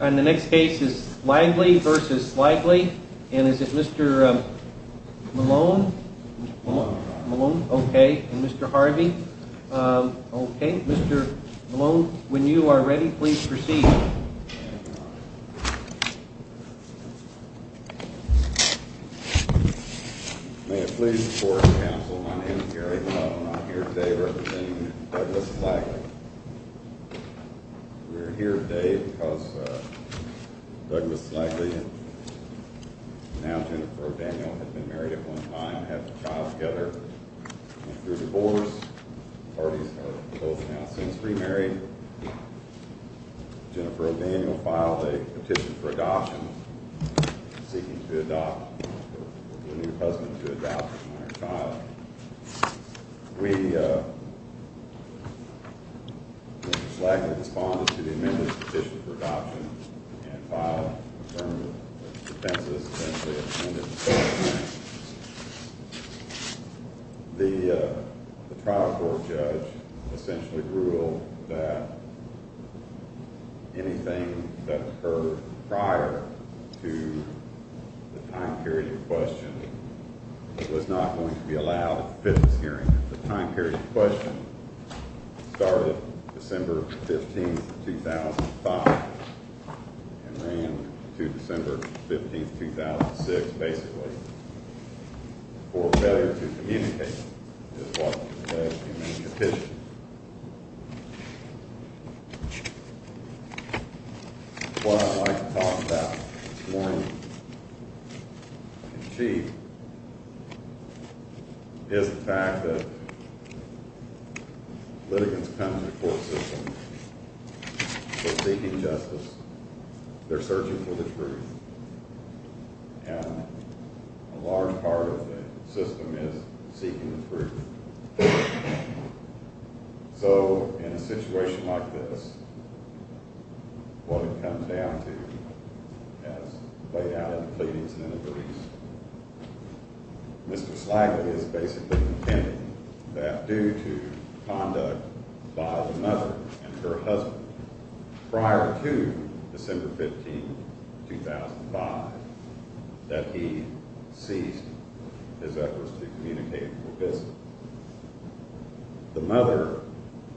And the next case is Slagley v. Slagley. And is it Mr. Malone? Malone? Okay. And Mr. Harvey? Okay. Mr. Malone, when you are ready, please proceed. May it please the court and counsel, my name is Gary Malone. I'm here today representing Douglas Slagley. We are here today because Douglas Slagley and now Jennifer O'Daniel have been married at one time and have a child together. And through divorce, the parties are both now since remarried. Jennifer O'Daniel filed a petition for adoption, seeking to adopt or for the new husband to adopt the minor child. We, uh, Mr. Slagley responded to the amended petition for adoption and filed a determent. The trial court judge essentially ruled that anything that occurred prior to the time period in question was not going to be allowed at the fitness hearing. The time period in question started December 15, 2005 and ran to December 15, 2006, basically, for failure to communicate. And that is what the petition is. What I'd like to talk about this morning in chief is the fact that litigants come to the court system, they're seeking justice, they're searching for the truth. And a large part of the system is seeking the truth. So in a situation like this, what it comes down to, as laid out in the pleadings and in the briefs, Mr. Slagley is basically contending that due to conduct by the mother and her husband prior to December 15, 2006, that he ceased his efforts to communicate for business. The mother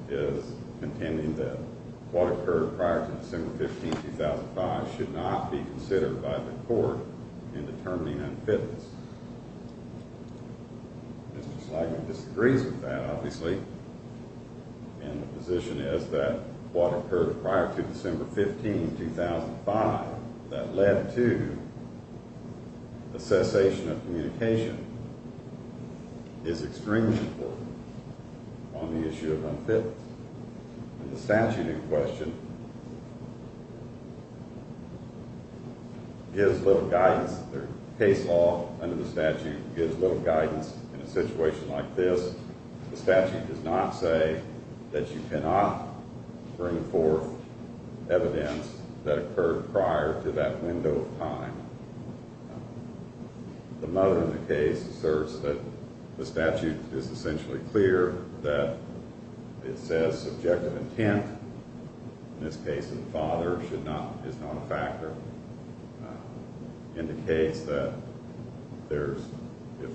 is contending that what occurred prior to December 15, 2005 should not be considered by the court in determining unfitness. Mr. Slagley disagrees with that, obviously, and the position is that what occurred prior to December 15, 2005 that led to a cessation of communication is extremely important on the issue of unfitness. The statute in question gives little guidance, the case law under the statute gives little guidance in a situation like this. The statute does not say that you cannot bring forth evidence that occurred prior to that window of time. The mother in the case asserts that the statute is essentially clear that it says subjective intent, in this case the father is not a factor, indicates that if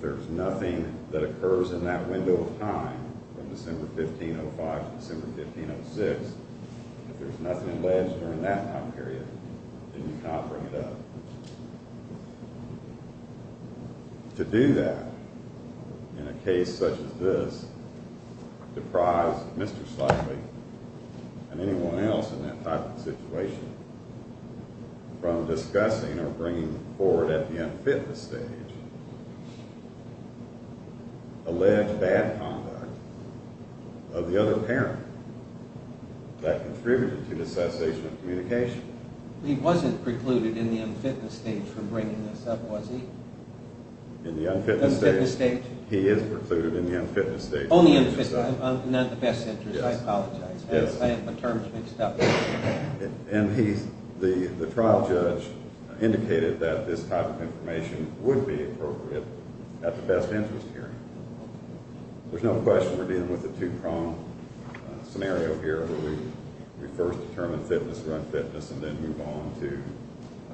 there's nothing that occurs in that window of time from December 15, 2005 to December 15, 2006, if there's nothing alleged during that time period, then you cannot bring it up. To do that in a case such as this deprives Mr. Slagley and anyone else in that type of situation from discussing or bringing forward at the unfitness stage alleged bad conduct of the other parent that contributed to the cessation of communication. He wasn't precluded in the unfitness stage from bringing this up, was he? In the unfitness stage? He is precluded in the unfitness stage. Not in the best interest, I apologize. My term's mixed up. The trial judge indicated that this type of information would be appropriate at the best interest hearing. There's no question we're dealing with a two-prong scenario here where we first determine fitness, run fitness, and then move on to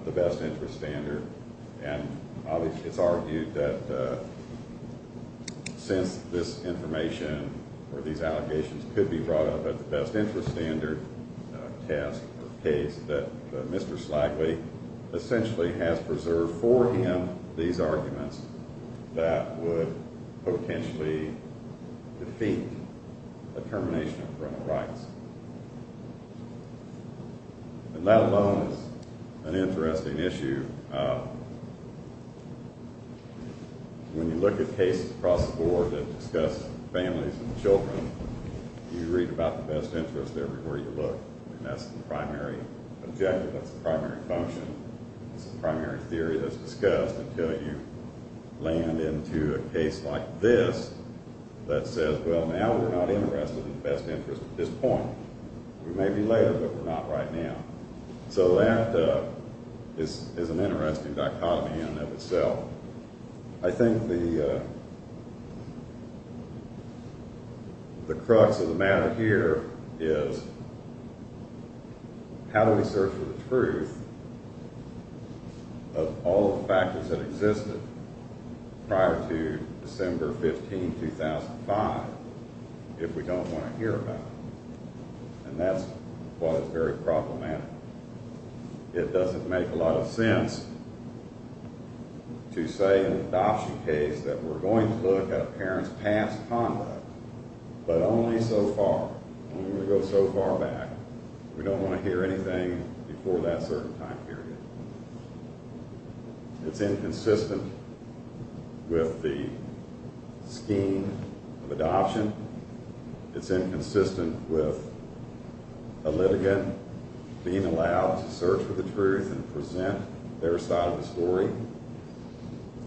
the best interest standard. It's argued that since this information or these allegations could be brought up at the best interest standard test or case, that Mr. Slagley essentially has preserved for him these arguments that would potentially defeat the termination of criminal rights. That alone is an interesting issue. When you look at cases across the board that discuss families and children, you read about the best interest everywhere you look. That's the primary objective. That's the primary function. It's the primary theory that's discussed until you land into a case like this that says, well, now we're not interested in the best interest at this point. We may be later, but we're not right now. So that is an interesting dichotomy in and of itself. I think the crux of the matter here is how do we search for the truth of all the factors that existed prior to December 15, 2005, if we don't want to hear about it? And that's what is very problematic. It doesn't make a lot of sense to say in an adoption case that we're going to look at a parent's past conduct, but only so far, only when we go so far back, we don't want to hear anything before that certain time period. It's inconsistent with the scheme of adoption. It's inconsistent with a litigant being allowed to search for the truth and present their side of the story.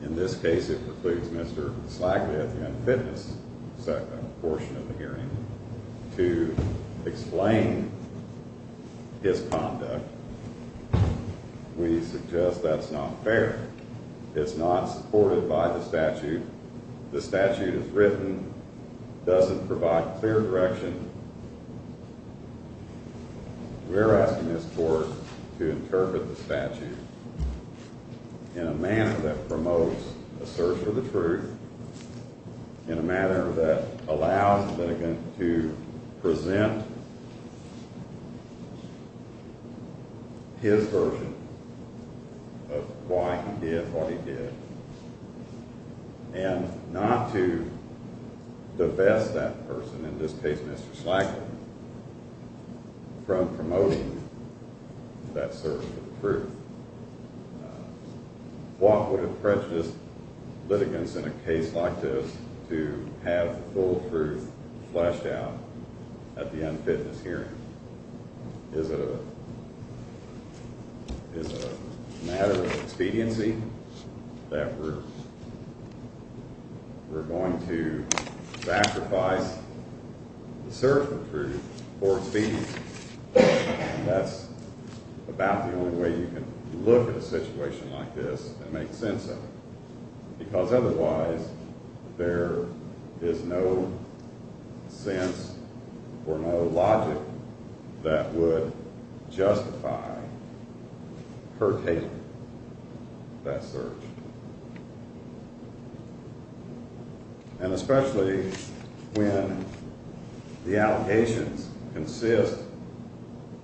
In this case, it precludes Mr. Slackley at the unfitness portion of the hearing to explain his conduct. We suggest that's not fair. It's not supported by the statute. The statute is written, doesn't provide clear direction. We're asking this court to interpret the statute in a manner that promotes a search for the truth, in a manner that allows the litigant to present his version of why he did what he did, and not to divest that person, in this case Mr. Slackley, from promoting that search for the truth. Why would it prejudice litigants in a case like this to have the full truth fleshed out at the unfitness hearing? Is it a matter of expediency that we're going to sacrifice the search for the truth for expediency? That's about the only way you can look at a situation like this and make sense of it. Because otherwise, there is no sense or no logic that would justify her taking that search. And especially when the allegations consist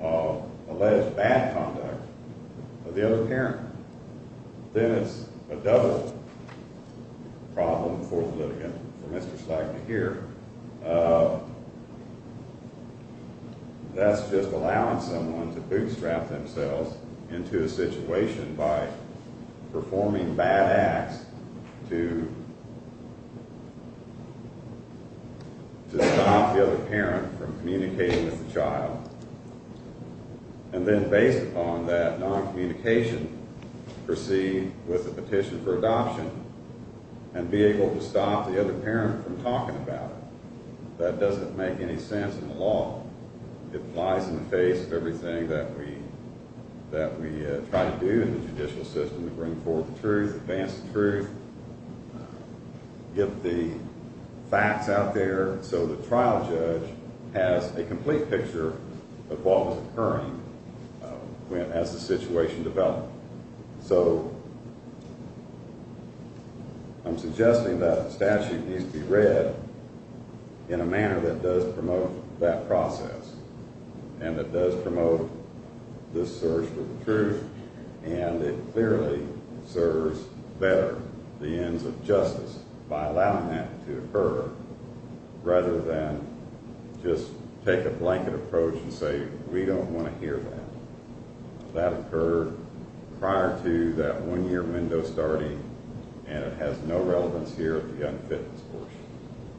of alleged bad conduct of the other parent. Then it's a double problem for the litigant, for Mr. Slackley here. That's just allowing someone to bootstrap themselves into a situation by performing bad acts to stop the other parent from communicating with the child. And then based upon that non-communication, proceed with the petition for adoption and be able to stop the other parent from talking about it. That doesn't make any sense in the law. It lies in the face of everything that we try to do in the judicial system to bring forth the truth, advance the truth, get the facts out there. So the trial judge has a complete picture of what was occurring as the situation developed. So I'm suggesting that the statute needs to be read in a manner that does promote that process. And that does promote this search for the truth. And it clearly serves better the ends of justice by allowing that to occur. Rather than just take a blanket approach and say, we don't want to hear that. That occurred prior to that one-year window starting and it has no relevance here at the Young Fitness Court.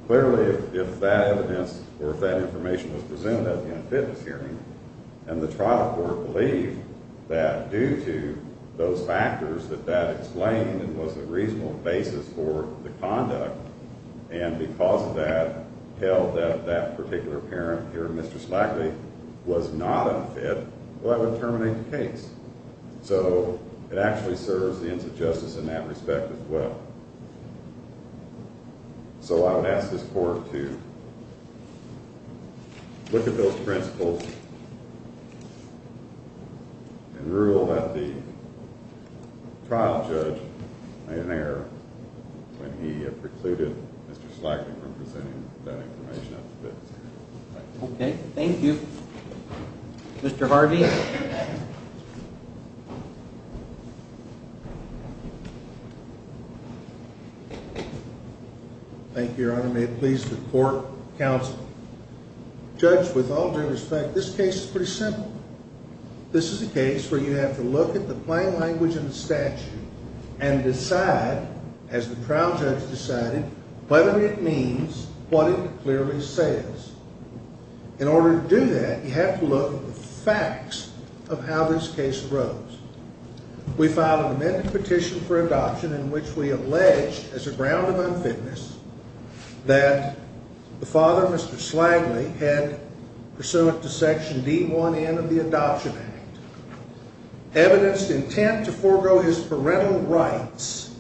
Clearly, if that evidence or if that information was presented at the Young Fitness hearing, and the trial court believed that due to those factors that that explained and was a reasonable basis for the conduct, and because of that held that that particular parent here, Mr. Slackley, was not unfit, that would terminate the case. So it actually serves the ends of justice in that respect as well. So I would ask this court to look at those principles and rule that the trial judge made an error when he precluded Mr. Slackley from presenting that information at the fitness hearing. Okay, thank you. Mr. Harvey? Thank you, Your Honor. May it please the court, counsel. Judge, with all due respect, this case is pretty simple. This is a case where you have to look at the plain language in the statute and decide, as the trial judge decided, whether it means what it clearly says. In order to do that, you have to look at the facts of how this case arose. We filed an amended petition for adoption in which we allege, as a ground of unfitness, that the father, Mr. Slackley, had, pursuant to Section D1N of the Adoption Act, evidenced intent to forego his parental rights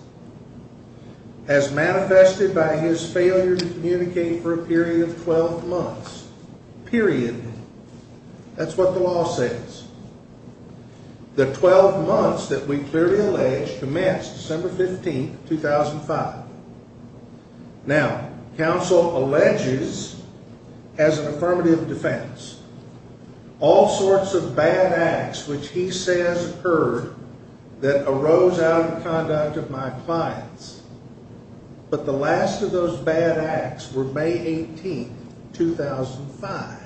as manifested by his failure to communicate for a period of 12 months. Period. That's what the law says. The 12 months that we clearly allege commenced December 15, 2005. Now, counsel alleges, as an affirmative defense, all sorts of bad acts which he says occurred that arose out of conduct of my clients. But the last of those bad acts were May 18, 2005.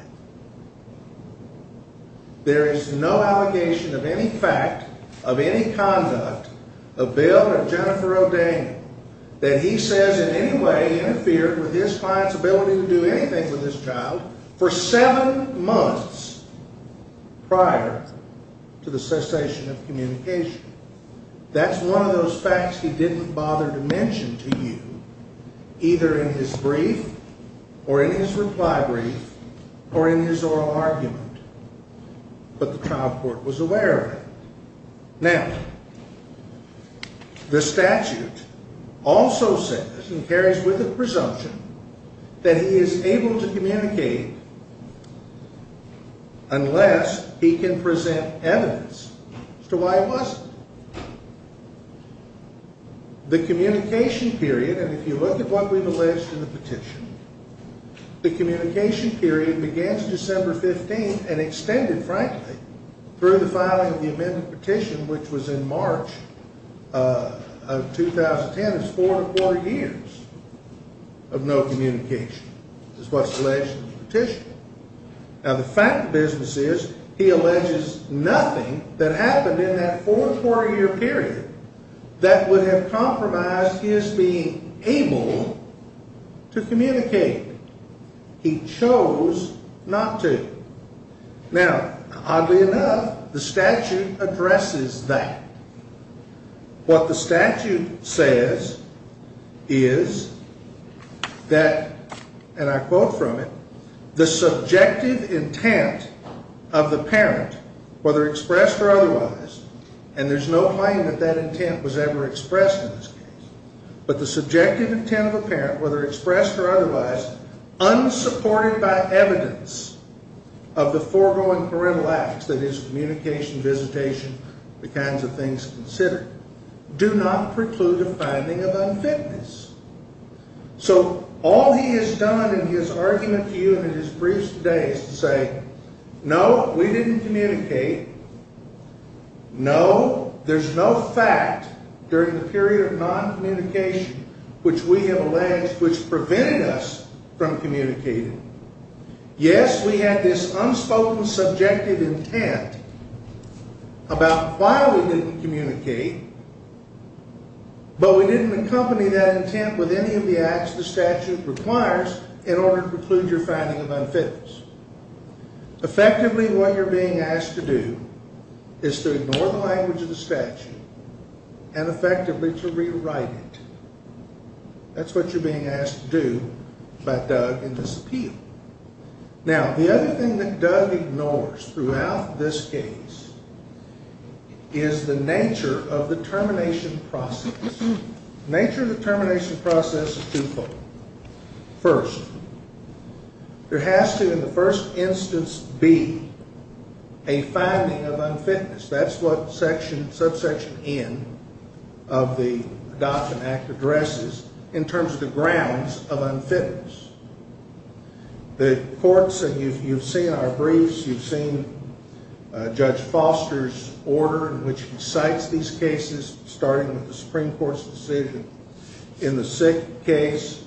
There is no allegation of any fact, of any conduct, of Bill and of Jennifer O'Daniel, that he says in any way interfered with his client's ability to do anything with his child for seven months prior to the cessation of communication. That's one of those facts he didn't bother to mention to you, either in his brief, or in his reply brief, or in his oral argument. But the trial court was aware of it. Now, the statute also says, and carries with it presumption, that he is able to communicate unless he can present evidence as to why he wasn't. The communication period, and if you look at what we've alleged in the petition, the communication period began December 15 and extended, frankly, through the filing of the amendment petition, which was in March of 2010. It's four and a quarter years of no communication. That's what's alleged in the petition. Now, the fact of the business is, he alleges nothing that happened in that four and a quarter year period that would have compromised his being able to communicate. He chose not to. Now, oddly enough, the statute addresses that. What the statute says is that, and I quote from it, the subjective intent of the parent, whether expressed or otherwise, and there's no claim that that intent was ever expressed in this case, but the subjective intent of a parent, whether expressed or otherwise, unsupported by evidence of the foregoing parental acts, that is, communication, visitation, the kinds of things considered, do not preclude a finding of unfitness. So all he has done in his argument to you in his briefs today is to say, no, we didn't communicate. No, there's no fact during the period of noncommunication, which we have alleged, which prevented us from communicating. Yes, we had this unspoken subjective intent about why we didn't communicate, but we didn't accompany that intent with any of the acts the statute requires in order to preclude your finding of unfitness. Effectively, what you're being asked to do is to ignore the language of the statute and effectively to rewrite it. That's what you're being asked to do by Doug in this appeal. Now, the other thing that Doug ignores throughout this case is the nature of the termination process. The nature of the termination process is twofold. First, there has to, in the first instance, be a finding of unfitness. That's what Subsection N of the Adoption Act addresses in terms of the grounds of unfitness. The courts, and you've seen our briefs, you've seen Judge Foster's order in which he cites these cases, starting with the Supreme Court's decision. In the sick case,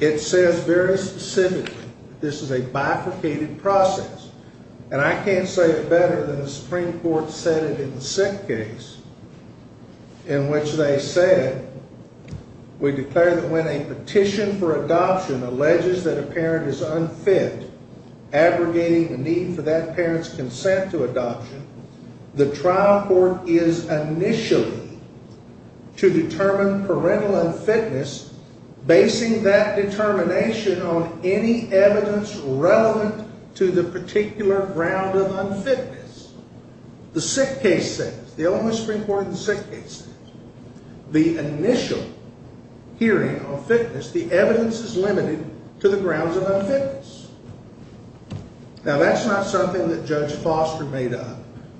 it says very specifically that this is a bifurcated process. And I can't say it better than the Supreme Court said it in the sick case in which they said, we declare that when a petition for adoption alleges that a parent is unfit, aggregating the need for that parent's consent to adoption, the trial court is initially to determine parental unfitness, basing that determination on any evidence relevant to the particular ground of unfitness. The sick case says, the Illinois Supreme Court in the sick case says, the initial hearing on fitness, the evidence is limited to the grounds of unfitness. Now, that's not something that Judge Foster made up,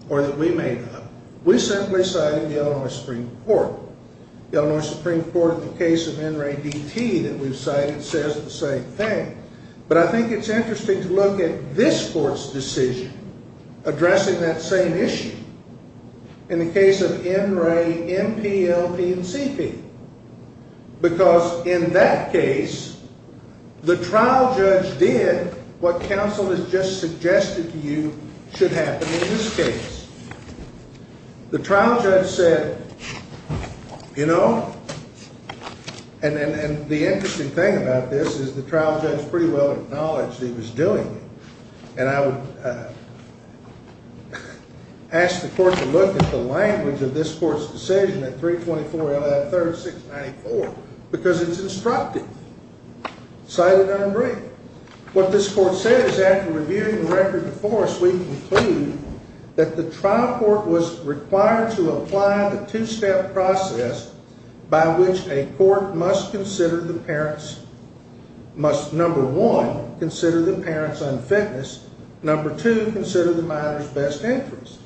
or that we made up. We simply cited the Illinois Supreme Court. The Illinois Supreme Court in the case of N. Ray D.T. that we've cited says the same thing. But I think it's interesting to look at this court's decision addressing that same issue. In the case of N. Ray, M.P., L.P., and C.P. Because in that case, the trial judge did what counsel has just suggested to you should happen in this case. The trial judge said, you know, and the interesting thing about this is the trial judge pretty well acknowledged he was doing it. And I would ask the court to look at the language of this court's decision at 324 L.F. 3694, because it's instructive. Cited N. Ray. What this court says, after reviewing the record before us, we conclude that the trial court was required to apply the two-step process by which a court must consider the parent's, must number one, consider the parent's unfitness, number two, consider the minor's best interest.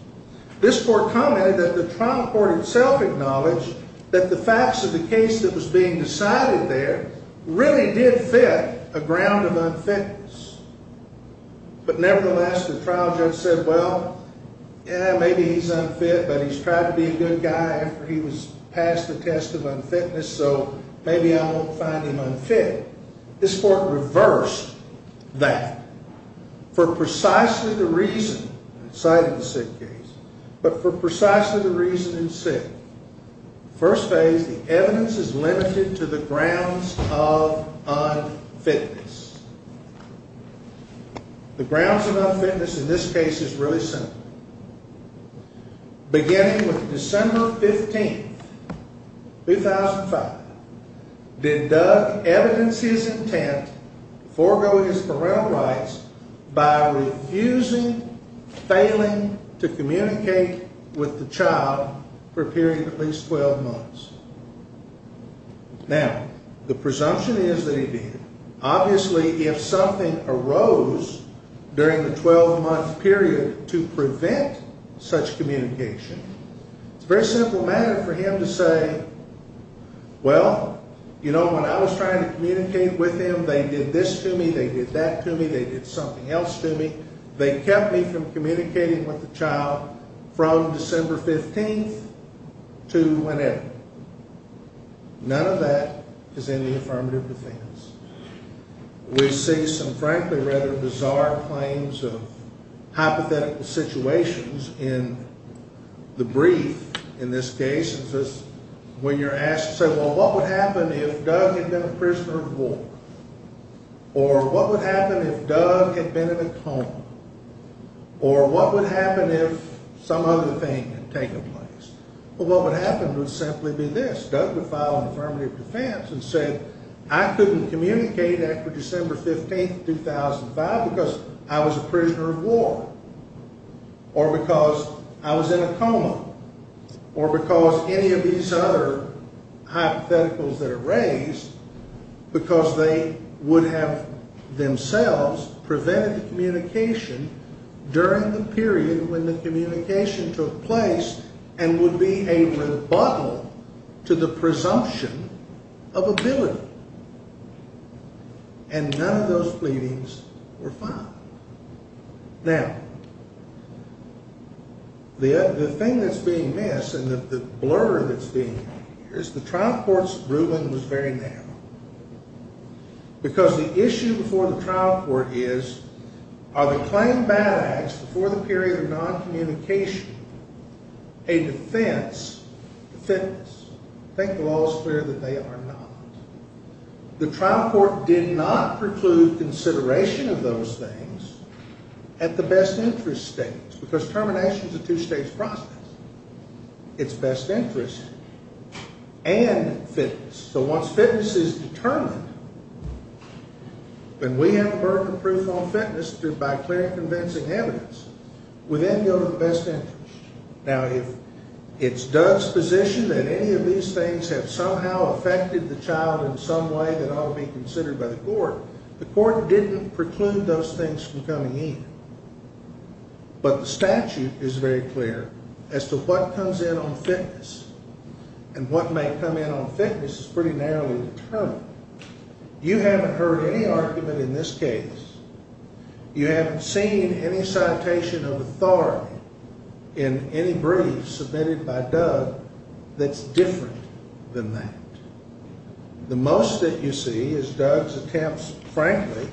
This court commented that the trial court itself acknowledged that the facts of the case that was being decided there really did fit a ground of unfitness. But nevertheless, the trial judge said, well, yeah, maybe he's unfit, but he's tried to be a good guy after he was passed the test of unfitness, so maybe I won't find him unfit. This court reversed that. For precisely the reason, cited the SID case, but for precisely the reason in SID, first phase, the evidence is limited to the grounds of unfitness. The grounds of unfitness in this case is really simple. Beginning with December 15, 2005, did Doug evidence his intent to forego his parental rights by refusing, failing to communicate with the child for a period of at least 12 months. Now, the presumption is that he did. Obviously, if something arose during the 12-month period to prevent such communication, it's a very simple matter for him to say, well, you know, when I was trying to communicate with him, they did this to me, they did that to me, they did something else to me. They kept me from communicating with the child from December 15th to whenever. None of that is in the affirmative defense. We see some frankly rather bizarre claims of hypothetical situations in the brief in this case. When you're asked to say, well, what would happen if Doug had been a prisoner of war? Or what would happen if Doug had been in a coma? Or what would happen if some other thing had taken place? Well, what would happen would simply be this. Doug would file an affirmative defense and say, I couldn't communicate after December 15th, 2005 because I was a prisoner of war. Or because I was in a coma. Or because any of these other hypotheticals that are raised, because they would have themselves prevented the communication during the period when the communication took place and would be a rebuttal to the presumption of ability. And none of those pleadings were filed. Now, the thing that's being missed and the blur that's being made here is the trial court's ruling was very narrow. Because the issue before the trial court is, are the claim bad acts before the period of non-communication a defense to fitness? I think the law is clear that they are not. The trial court did not preclude consideration of those things at the best interest stage. Because termination is a two-stage process. It's best interest. And fitness. So once fitness is determined, when we have a burden of proof on fitness by clear and convincing evidence, we then go to the best interest. Now, if it's Doug's position that any of these things have somehow affected the child in some way that ought to be considered by the court, the court didn't preclude those things from coming in. But the statute is very clear as to what comes in on fitness and what may come in on fitness is pretty narrowly determined. You haven't heard any argument in this case. You haven't seen any citation of authority in any brief submitted by Doug that's different than that. The most that you see is Doug's attempts, frankly,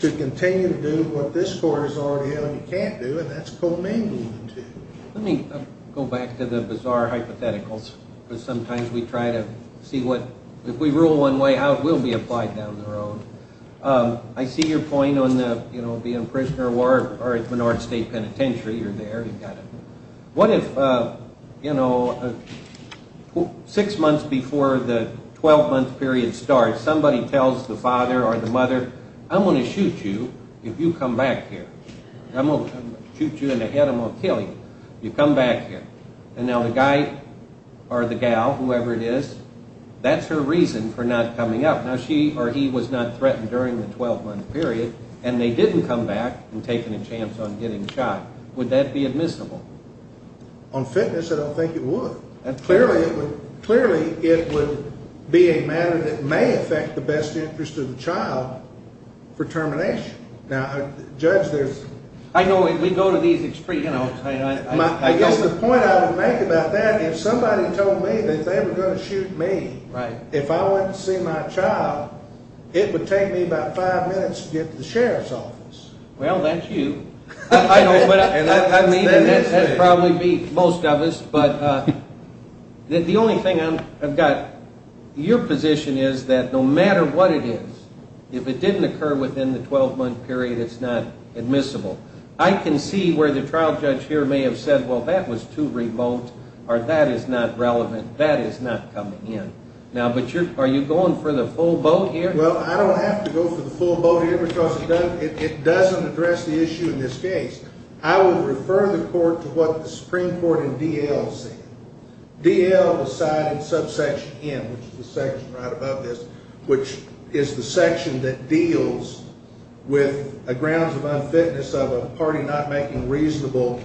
to continue to do what this court has already held he can't do, and that's commingling the two. Let me go back to the bizarre hypotheticals. Because sometimes we try to see what, if we rule one way out, we'll be applied down the road. I see your point on the, you know, being a prisoner of war or at Menard State Penitentiary, you're there, you got it. What if, you know, six months before the 12-month period starts, somebody tells the father or the mother, I'm going to shoot you if you come back here. I'm going to shoot you in the head, I'm going to kill you. You come back here. And now the guy or the gal, whoever it is, that's her reason for not coming up. Now, she or he was not threatened during the 12-month period, and they didn't come back and take any chance on getting shot. Would that be admissible? On fitness, I don't think it would. Clearly, it would be a matter that may affect the best interest of the child for termination. Now, Judge, there's... I know we go to these extremes. I guess the point I would make about that, if somebody told me that they were going to shoot me, if I went to see my child, it would take me about five minutes to get to the sheriff's office. Well, that's you. I know, but I mean, that would probably be most of us. But the only thing I've got, your position is that no matter what it is, if it didn't occur within the 12-month period, it's not admissible. I can see where the trial judge here may have said, well, that was too remote, or that is not relevant. That is not coming in. Now, but you're... are you going for the full boat here? Well, I don't have to go for the full boat here because it doesn't address the issue in this case. I would refer the court to what the Supreme Court in D.L. said. D.L. decided in subsection M, which is the section right above this, which is the section that deals with grounds of unfitness or the party not making reasonable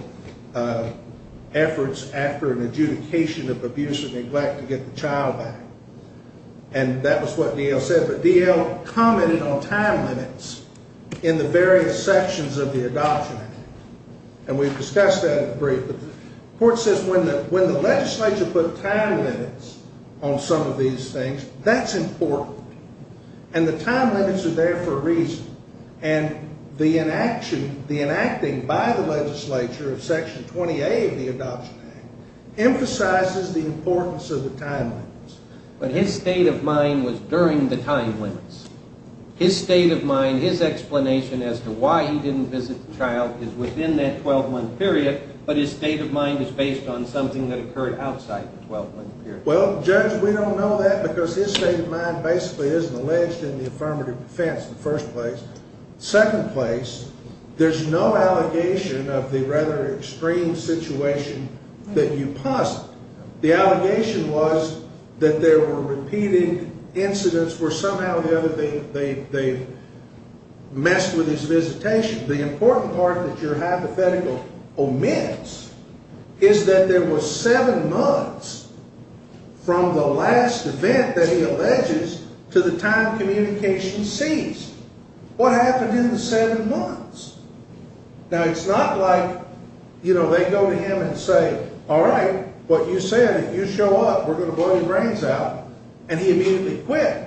efforts after an adjudication of abuse or neglect to get the child back. And that was what D.L. said. But D.L. commented on time limits in the various sections of the Adoption Act. And we've discussed that in the brief. But the court says when the legislature put time limits on some of these things, that's important. And the time limits are there for a reason. And the enacting by the legislature of section 20A of the Adoption Act emphasizes the importance of the time limits. But his state of mind was during the time limits. His state of mind, his explanation as to why he didn't visit the child is within that 12-month period, but his state of mind is based on something that occurred outside the 12-month period. Well, Judge, we don't know that because his state of mind basically isn't alleged in the affirmative defense in the first place. Second place, there's no allegation of the rather extreme situation that you posit. The allegation was that there were repeating incidents where somehow or the other they messed with his visitation. The important part that your hypothetical omits is that there were seven months from the last event that he alleges to the time communication ceased. What happened in the seven months? Now, it's not like, you know, they go to him and say, all right, what you said, if you show up, we're going to blow your brains out, and he immediately quit.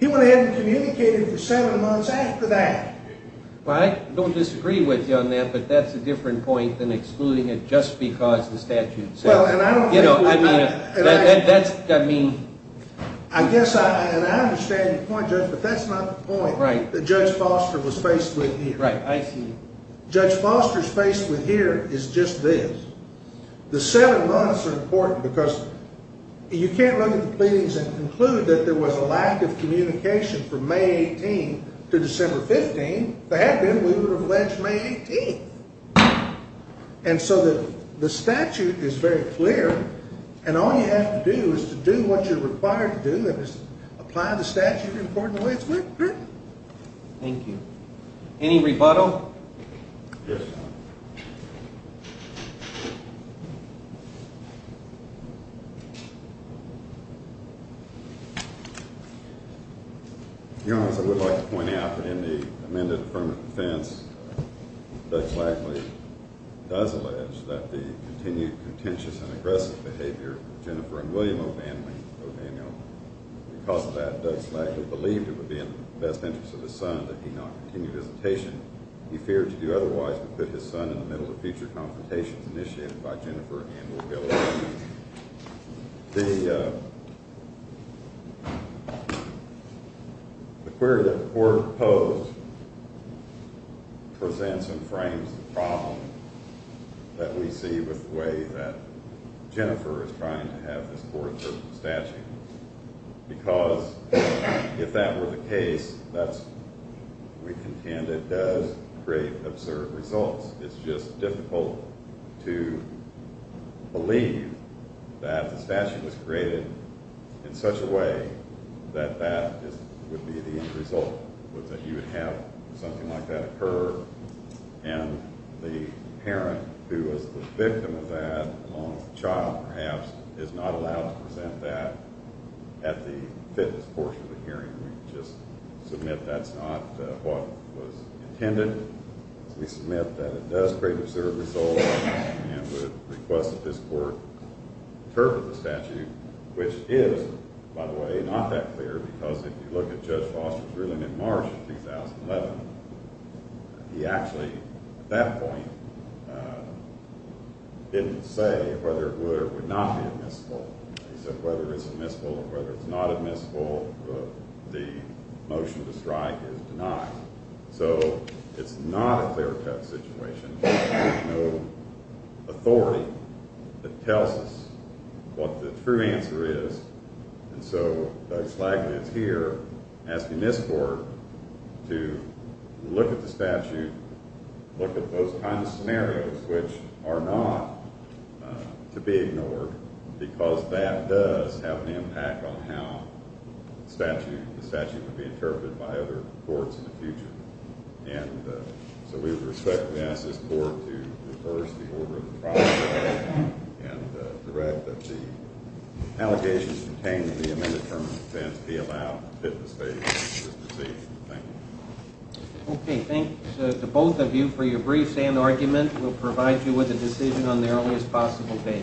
He went ahead and communicated for seven months after that. Well, I don't disagree with you on that, but that's a different point than excluding it just because the statute says. Well, and I don't think we're... That's, I mean... I guess, and I understand your point, Judge, but that's not the point that Judge Foster was faced with here. Right, I see. Judge Foster's face with here is just this. The seven months are important because you can't look at the pleadings and conclude that there was a lack of communication from May 18th to December 15th. If there had been, we would have alleged May 18th. And so the statute is very clear, and all you have to do is to do what you're required to do, which is apply the statute in an important way. Thank you. Any rebuttal? Yes, Your Honor. Your Honor, as I would like to point out, in the amended affirmative defense, Judge Lackley does allege that the continued contentious and aggressive behavior of Jennifer and William O'Daniel because of that, Judge Lackley believed it would be in the best interest of his son that he not continue his visitation. He feared to do otherwise would put his son in the middle of future confrontations initiated by Jennifer and William O'Daniel. The... The query that the court posed presents and frames the problem that we see with the way that Jennifer is trying to have this court approve the statute. Because if that were the case, that's, we contend it does create absurd results. It's just difficult to believe that the statute was created in such a way that that would be the end result, that you would have something like that occur, and the parent who was the victim of that, along with the child perhaps, is not allowed to present that at the fitness portion of the hearing. We just submit that's not what was intended. We submit that it does create absurd results and would request that this court interpret the statute, which is, by the way, not that clear because if you look at Judge Foster's ruling in March 2011, he actually, at that point, didn't say whether it would or would not be admissible. He said whether it's admissible or whether it's not admissible, the motion to strike is denied. So, it's not a clear-cut situation. There's no authority that tells us what the true answer is. And so, Doug Slagman is here asking this court to look at the statute, look at those kinds of scenarios which are not to be ignored, because that does have an impact on how the statute would be interpreted by other courts in the future. And so, we would respectfully ask this court to reverse the order of the trial and to write that the allegations pertaining to the amended term of defense be allowed at the fitness stage of this proceeding. Thank you. Okay. Thank you to both of you for your briefs and argument. We'll provide you with a decision on the earliest possible date.